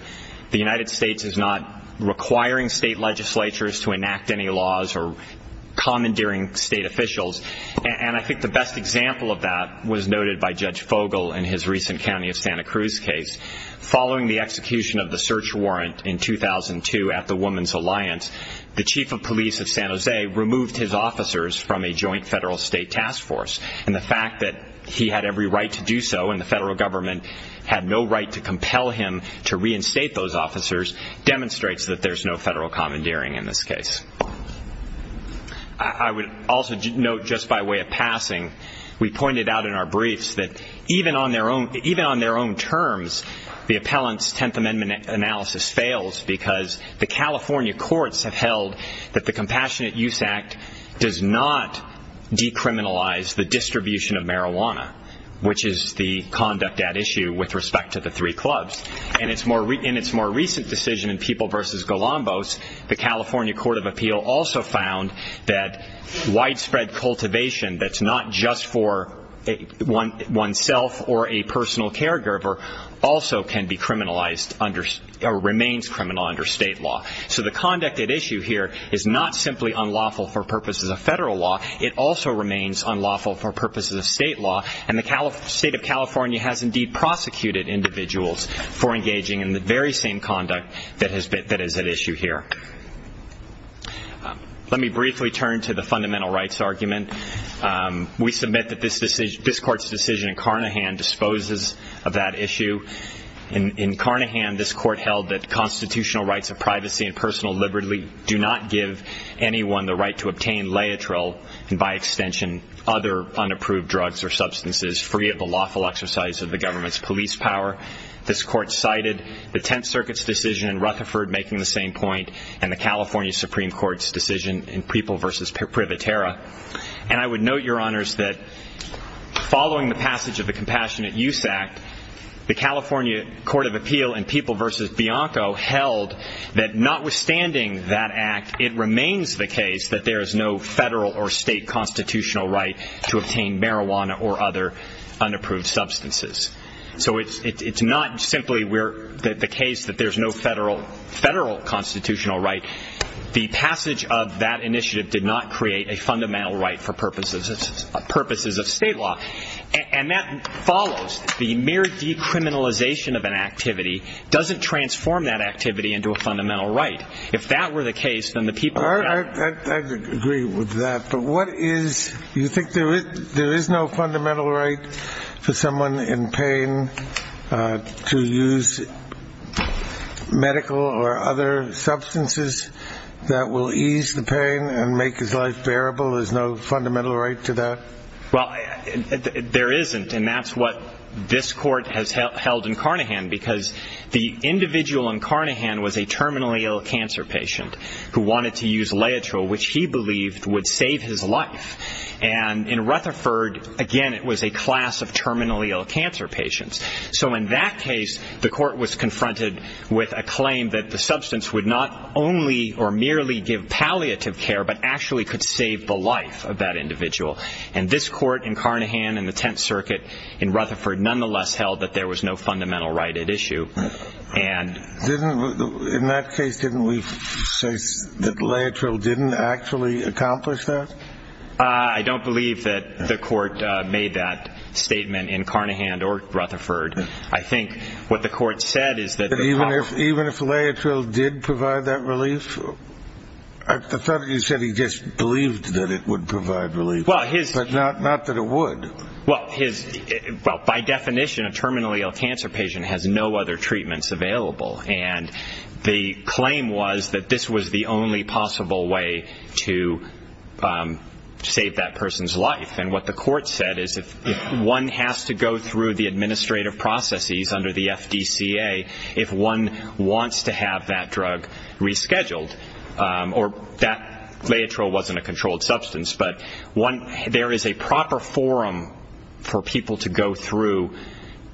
The United States is not requiring state legislatures to enact any laws or commandeering state officials. And I think the best example of that was noted by Judge Fogel in his recent County of Santa Cruz case. Following the execution of the search warrant in 2002 at the Woman's Alliance, the chief of police of San Jose removed his officers from a joint federal state task force. And the fact that he had every right to do so and the federal government had no right to compel him to reinstate those officers demonstrates that there's no federal commandeering in this case. I would also note just by way of passing, we pointed out in our briefs that even on their own terms, the appellant's Tenth Amendment analysis fails because the California courts have held that the Compassionate Use Act does not decriminalize the distribution of marijuana, which is the conduct at issue with respect to the three clubs. In its more recent decision in People v. Golombos, the California Court of Appeal also found that widespread cultivation that's not just for oneself or a personal caregiver also can be criminalized or remains criminal under state law. So the conduct at issue here is not simply unlawful for purposes of federal law. It also remains unlawful for purposes of state law. And the state of California has indeed prosecuted individuals for engaging in the very same conduct that is at issue here. Let me briefly turn to the fundamental rights argument. We submit that this court's decision in Carnahan disposes of that issue. In Carnahan, this court held that constitutional rights of privacy and personal liberty do not give anyone the right to obtain laetrile and, by extension, other unapproved drugs or substances free of the lawful exercise of the government's police power. This court cited the Tenth Circuit's decision in Rutherford making the same point and the California Supreme Court's decision in People v. Privaterra. And I would note, Your Honors, that following the passage of the Compassionate Use Act, the California Court of Appeal in People v. Bianco held that notwithstanding that act, it remains the case that there is no federal or state constitutional right to obtain marijuana or other unapproved substances. So it's not simply the case that there's no federal constitutional right. The passage of that initiative did not create a fundamental right for purposes of state law. And that follows. The mere decriminalization of an activity doesn't transform that activity into a fundamental right. If that were the case, then the people of California would not be able to obtain marijuana. I agree with that. But what is – you think there is no fundamental right for someone in pain to use medical or other substances that will ease the pain and make his life bearable? There's no fundamental right to that? Well, there isn't. And that's what this Court has held in Carnahan, because the individual in Carnahan was a terminally ill cancer patient who wanted to use Laetrile, which he believed would save his life. And in Rutherford, again, it was a class of terminally ill cancer patients. So in that case, the Court was confronted with a claim that the substance would not only or merely give palliative care, but actually could save the life of that individual. And this Court in Carnahan and the Tenth Circuit in Rutherford nonetheless held that there was no fundamental right at issue. In that case, didn't we say that Laetrile didn't actually accomplish that? I don't believe that the Court made that statement in Carnahan or Rutherford. I think what the Court said is that the – Even if Laetrile did provide that relief? I thought you said he just believed that it would provide relief, but not that it would. Well, by definition, a terminally ill cancer patient has no other treatments available. And the claim was that this was the only possible way to save that person's life. And what the Court said is if one has to go through the administrative processes under the FDCA, if one wants to have that drug rescheduled, or that Laetrile wasn't a controlled substance, but there is a proper forum for people to go through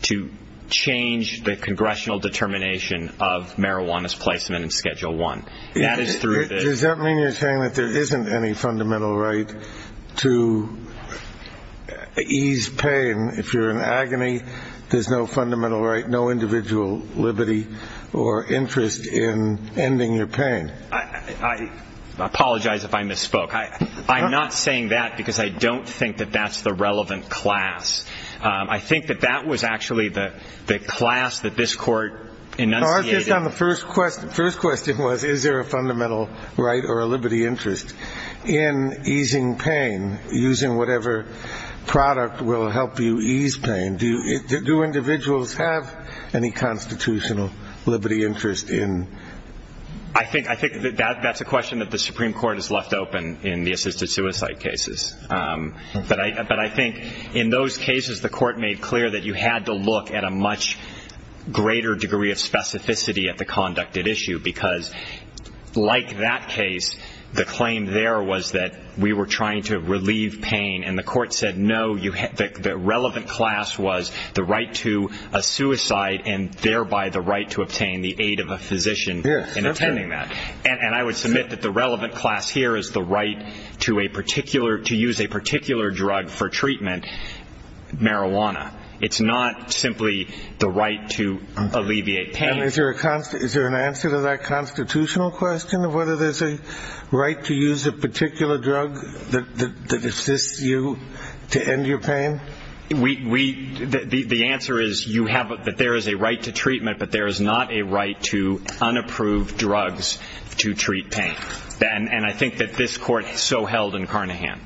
to change the congressional determination of marijuana's placement in Schedule I. Does that mean you're saying that there isn't any fundamental right to ease pain if you're in agony? There's no fundamental right, no individual liberty or interest in ending your pain? I apologize if I misspoke. I'm not saying that because I don't think that that's the relevant class. I think that that was actually the class that this Court enunciated. No, I was just on the first question. The first question was is there a fundamental right or a liberty interest in easing pain, using whatever product will help you ease pain? Do individuals have any constitutional liberty interest in that? I think that's a question that the Supreme Court has left open in the assisted suicide cases. But I think in those cases the Court made clear that you had to look at a much greater degree of specificity at the conducted issue because like that case, the claim there was that we were trying to relieve pain, and the Court said no, the relevant class was the right to a suicide and thereby the right to obtain the aid of a physician in attending that. And I would submit that the relevant class here is the right to use a particular drug for treatment, marijuana. It's not simply the right to alleviate pain. Is there an answer to that constitutional question of whether there's a right to use a particular drug that assists you to end your pain? The answer is that there is a right to treatment, but there is not a right to unapproved drugs to treat pain. And I think that this Court so held in Carnahan.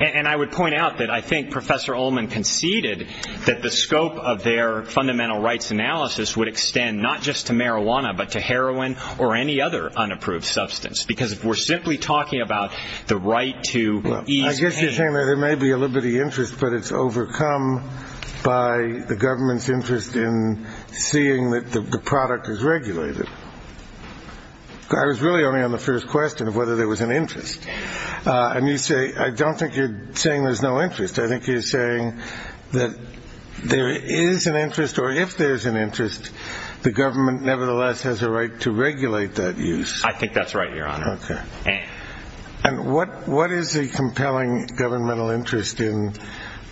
And I would point out that I think Professor Ullman conceded that the scope of their fundamental rights analysis would extend not just to marijuana but to heroin or any other unapproved substance because we're simply talking about the right to ease pain. I guess you're saying that there may be a liberty interest, but it's overcome by the government's interest in seeing that the product is regulated. I was really only on the first question of whether there was an interest. I don't think you're saying there's no interest. I think you're saying that there is an interest, or if there's an interest, the government nevertheless has a right to regulate that use. I think that's right, Your Honor. Okay. And what is the compelling governmental interest in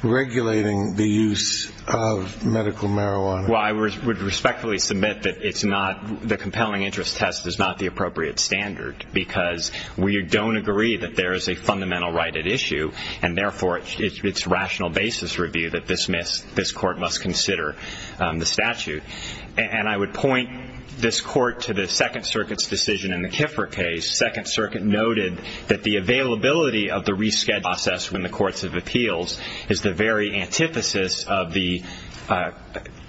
regulating the use of medical marijuana? Well, I would respectfully submit that the compelling interest test is not the appropriate standard because we don't agree that there is a fundamental right at issue, and therefore it's rational basis review that this Court must consider the statute. And I would point this Court to the Second Circuit's decision in the Kiffler case. Second Circuit noted that the availability of the reschedule process when the courts have appeals is the very antithesis of the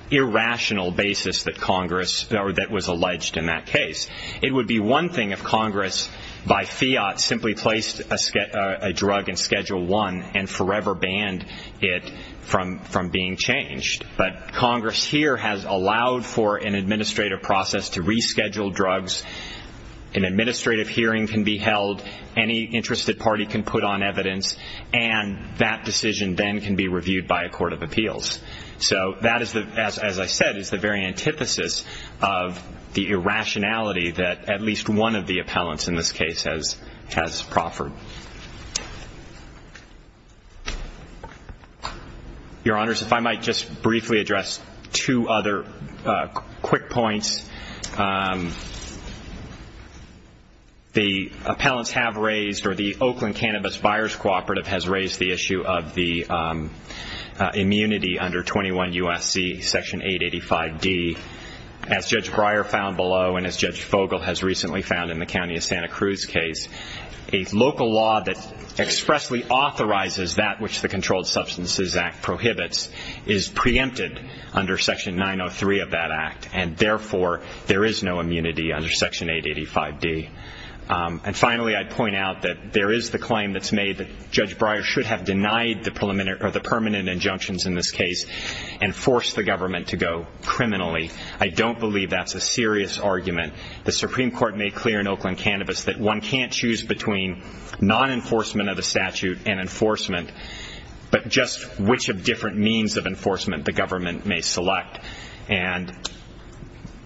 irrational basis that was alleged in that case. It would be one thing if Congress by fiat simply placed a drug in Schedule I and forever banned it from being changed, but Congress here has allowed for an administrative process to reschedule drugs. An administrative hearing can be held. Any interested party can put on evidence, and that decision then can be reviewed by a court of appeals. So that, as I said, is the very antithesis of the irrationality that at least one of the appellants in this case has proffered. Your Honors, if I might just briefly address two other quick points. The appellants have raised, or the Oakland Cannabis Buyers Cooperative has raised, the issue of the immunity under 21 U.S.C. Section 885D. As Judge Breyer found below and as Judge Fogle has recently found in the County of Santa Cruz case, a local law that expressly authorizes that which the Controlled Substances Act prohibits is preempted under Section 903 of that act, and therefore there is no immunity under Section 885D. And finally, I'd point out that there is the claim that's made that Judge Breyer should have denied the permanent injunctions in this case and forced the government to go criminally. I don't believe that's a serious argument. The Supreme Court made clear in Oakland Cannabis that one can't choose between non-enforcement of the statute and enforcement, but just which of different means of enforcement the government may select. And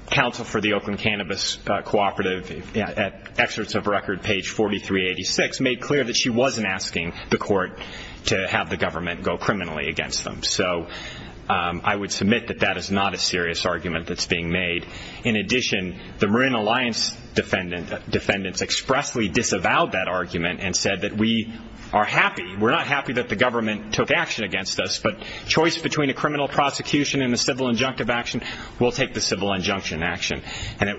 counsel for the Oakland Cannabis Cooperative, at excerpts of record page 4386, made clear that she wasn't asking the court to have the government go criminally against them. So I would submit that that is not a serious argument that's being made. In addition, the Marine Alliance defendants expressly disavowed that argument and said that we are happy. We're not happy that the government took action against us, but choice between a criminal prosecution and a civil injunctive action will take the civil injunction action. And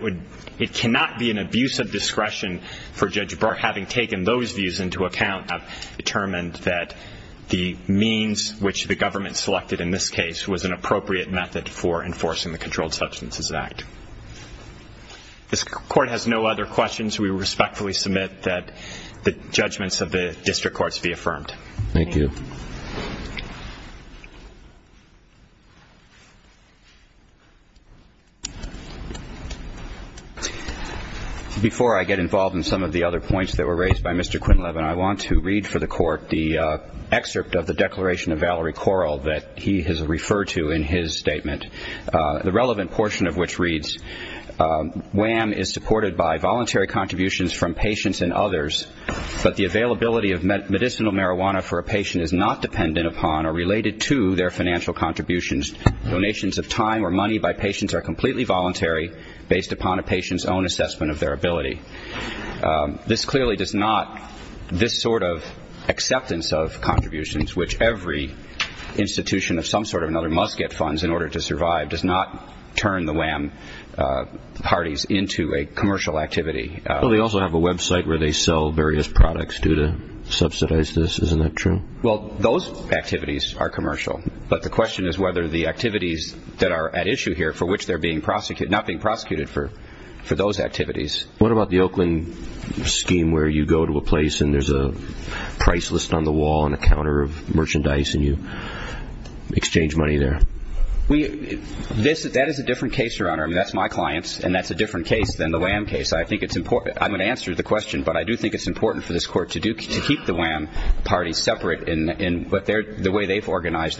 it cannot be an abuse of discretion for Judge Breyer, having taken those views into account, have determined that the means which the government selected in this case was an appropriate method for enforcing the Controlled Substances Act. This court has no other questions. We respectfully submit that the judgments of the district courts be affirmed. Thank you. Before I get involved in some of the other points that were raised by Mr. Quintleff and I want to read for the court the excerpt of the declaration of Valerie Corral that he has referred to in his statement, the relevant portion of which reads, WHAM is supported by voluntary contributions from patients and others, but the availability of medicinal marijuana for a patient is not dependent upon or related to their financial contributions. Donations of time or money by patients are completely voluntary, based upon a patient's own assessment of their ability. This clearly does not, this sort of acceptance of contributions, which every institution of some sort or another must get funds in order to survive, does not turn the WHAM parties into a commercial activity. Well, they also have a website where they sell various products to subsidize this. Isn't that true? Well, those activities are commercial, but the question is whether the activities that are at issue here for which they're being prosecuted, not being prosecuted for those activities. What about the Oakland scheme where you go to a place and there's a price list on the wall and a counter of merchandise and you exchange money there? That is a different case, Your Honor. That's my client's and that's a different case than the WHAM case. I think it's important. I'm going to answer the question, but I do think it's important for this Court to keep the WHAM parties separate in the way they've organized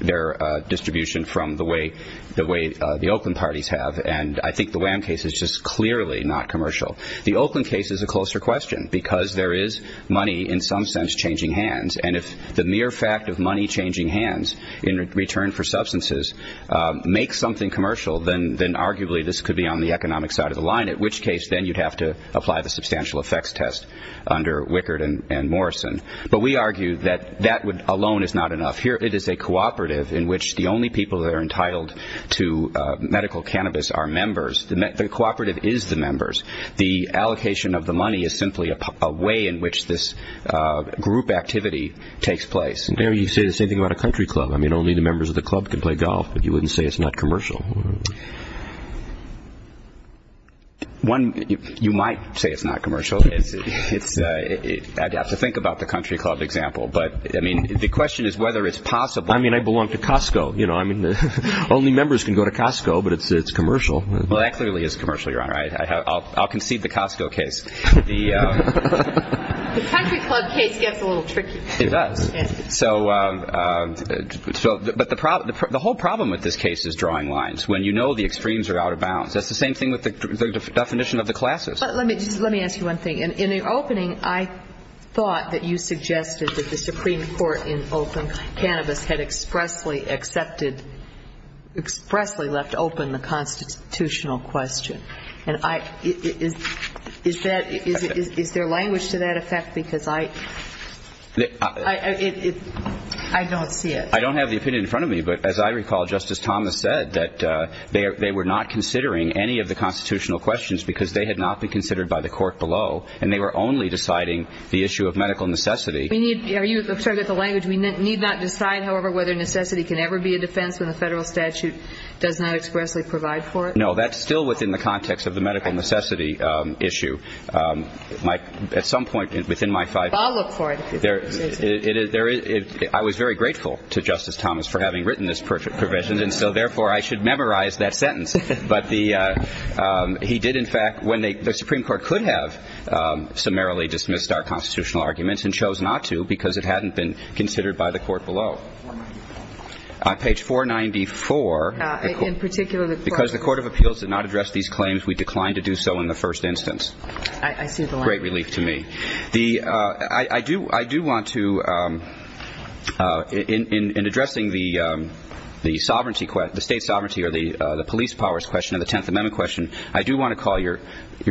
their distribution from the way the Oakland parties have, and I think the WHAM case is just clearly not commercial. The Oakland case is a closer question because there is money in some sense changing hands, and if the mere fact of money changing hands in return for substances makes something commercial, then arguably this could be on the economic side of the line, at which case then you'd have to apply the substantial effects test under Wickard and Morrison. But we argue that that alone is not enough. Here it is a cooperative in which the only people that are entitled to medical cannabis are members. The cooperative is the members. The allocation of the money is simply a way in which this group activity takes place. You say the same thing about a country club. I mean, only the members of the club can play golf, but you wouldn't say it's not commercial. You might say it's not commercial. I'd have to think about the country club example, but the question is whether it's possible. I mean, I belong to Costco. Only members can go to Costco, but it's commercial. Well, that clearly is commercial, Your Honor. I'll concede the Costco case. The country club case gets a little tricky. It does. But the whole problem with this case is drawing lines. When you know the extremes are out of bounds. That's the same thing with the definition of the classes. Let me ask you one thing. In the opening, I thought that you suggested that the Supreme Court in open cannabis had expressly accepted, expressly left open the constitutional question. Is there language to that effect? Because I don't see it. I don't have the opinion in front of me. But as I recall, Justice Thomas said that they were not considering any of the constitutional questions because they had not been considered by the court below, and they were only deciding the issue of medical necessity. We need not decide, however, whether necessity can ever be a defense when the federal statute does not expressly provide for it? No, that's still within the context of the medical necessity issue. At some point within my five years, I was very grateful to Justice Thomas for having written this provision, and so therefore I should memorize that sentence. But he did, in fact, when the Supreme Court could have summarily dismissed our constitutional arguments and chose not to because it hadn't been considered by the court below. On page 494, because the Court of Appeals did not address these claims, we declined to do so in the first instance. Great relief to me. I do want to, in addressing the state sovereignty or the police powers question and the Tenth Amendment question, I do want to call Your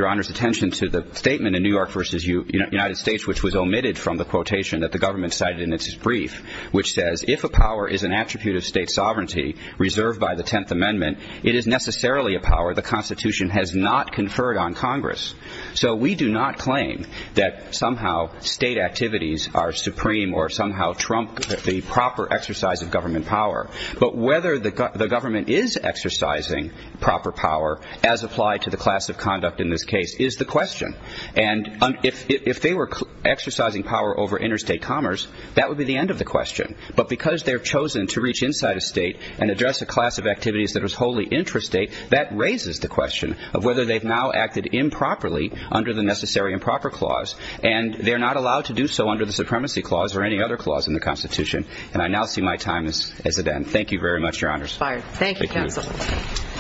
Honor's attention to the statement in New York v. United States which was omitted from the quotation that the government cited in its brief which says, if a power is an attribute of state sovereignty reserved by the Tenth Amendment, it is necessarily a power the Constitution has not conferred on Congress. So we do not claim that somehow state activities are supreme or somehow trump the proper exercise of government power, but whether the government is exercising proper power as applied to the class of conduct in this case is the question. And if they were exercising power over interstate commerce, that would be the end of the question. But because they've chosen to reach inside a state and address a class of activities that was wholly intrastate, that raises the question of whether they've now acted improperly under the necessary improper clause. And they're not allowed to do so under the supremacy clause or any other clause in the Constitution. And I now see my time as it ends. Thank you very much, Your Honors. Thank you, counsel.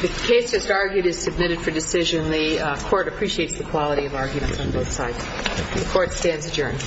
The case just argued is submitted for decision. The Court appreciates the quality of arguments on both sides. The Court stands adjourned.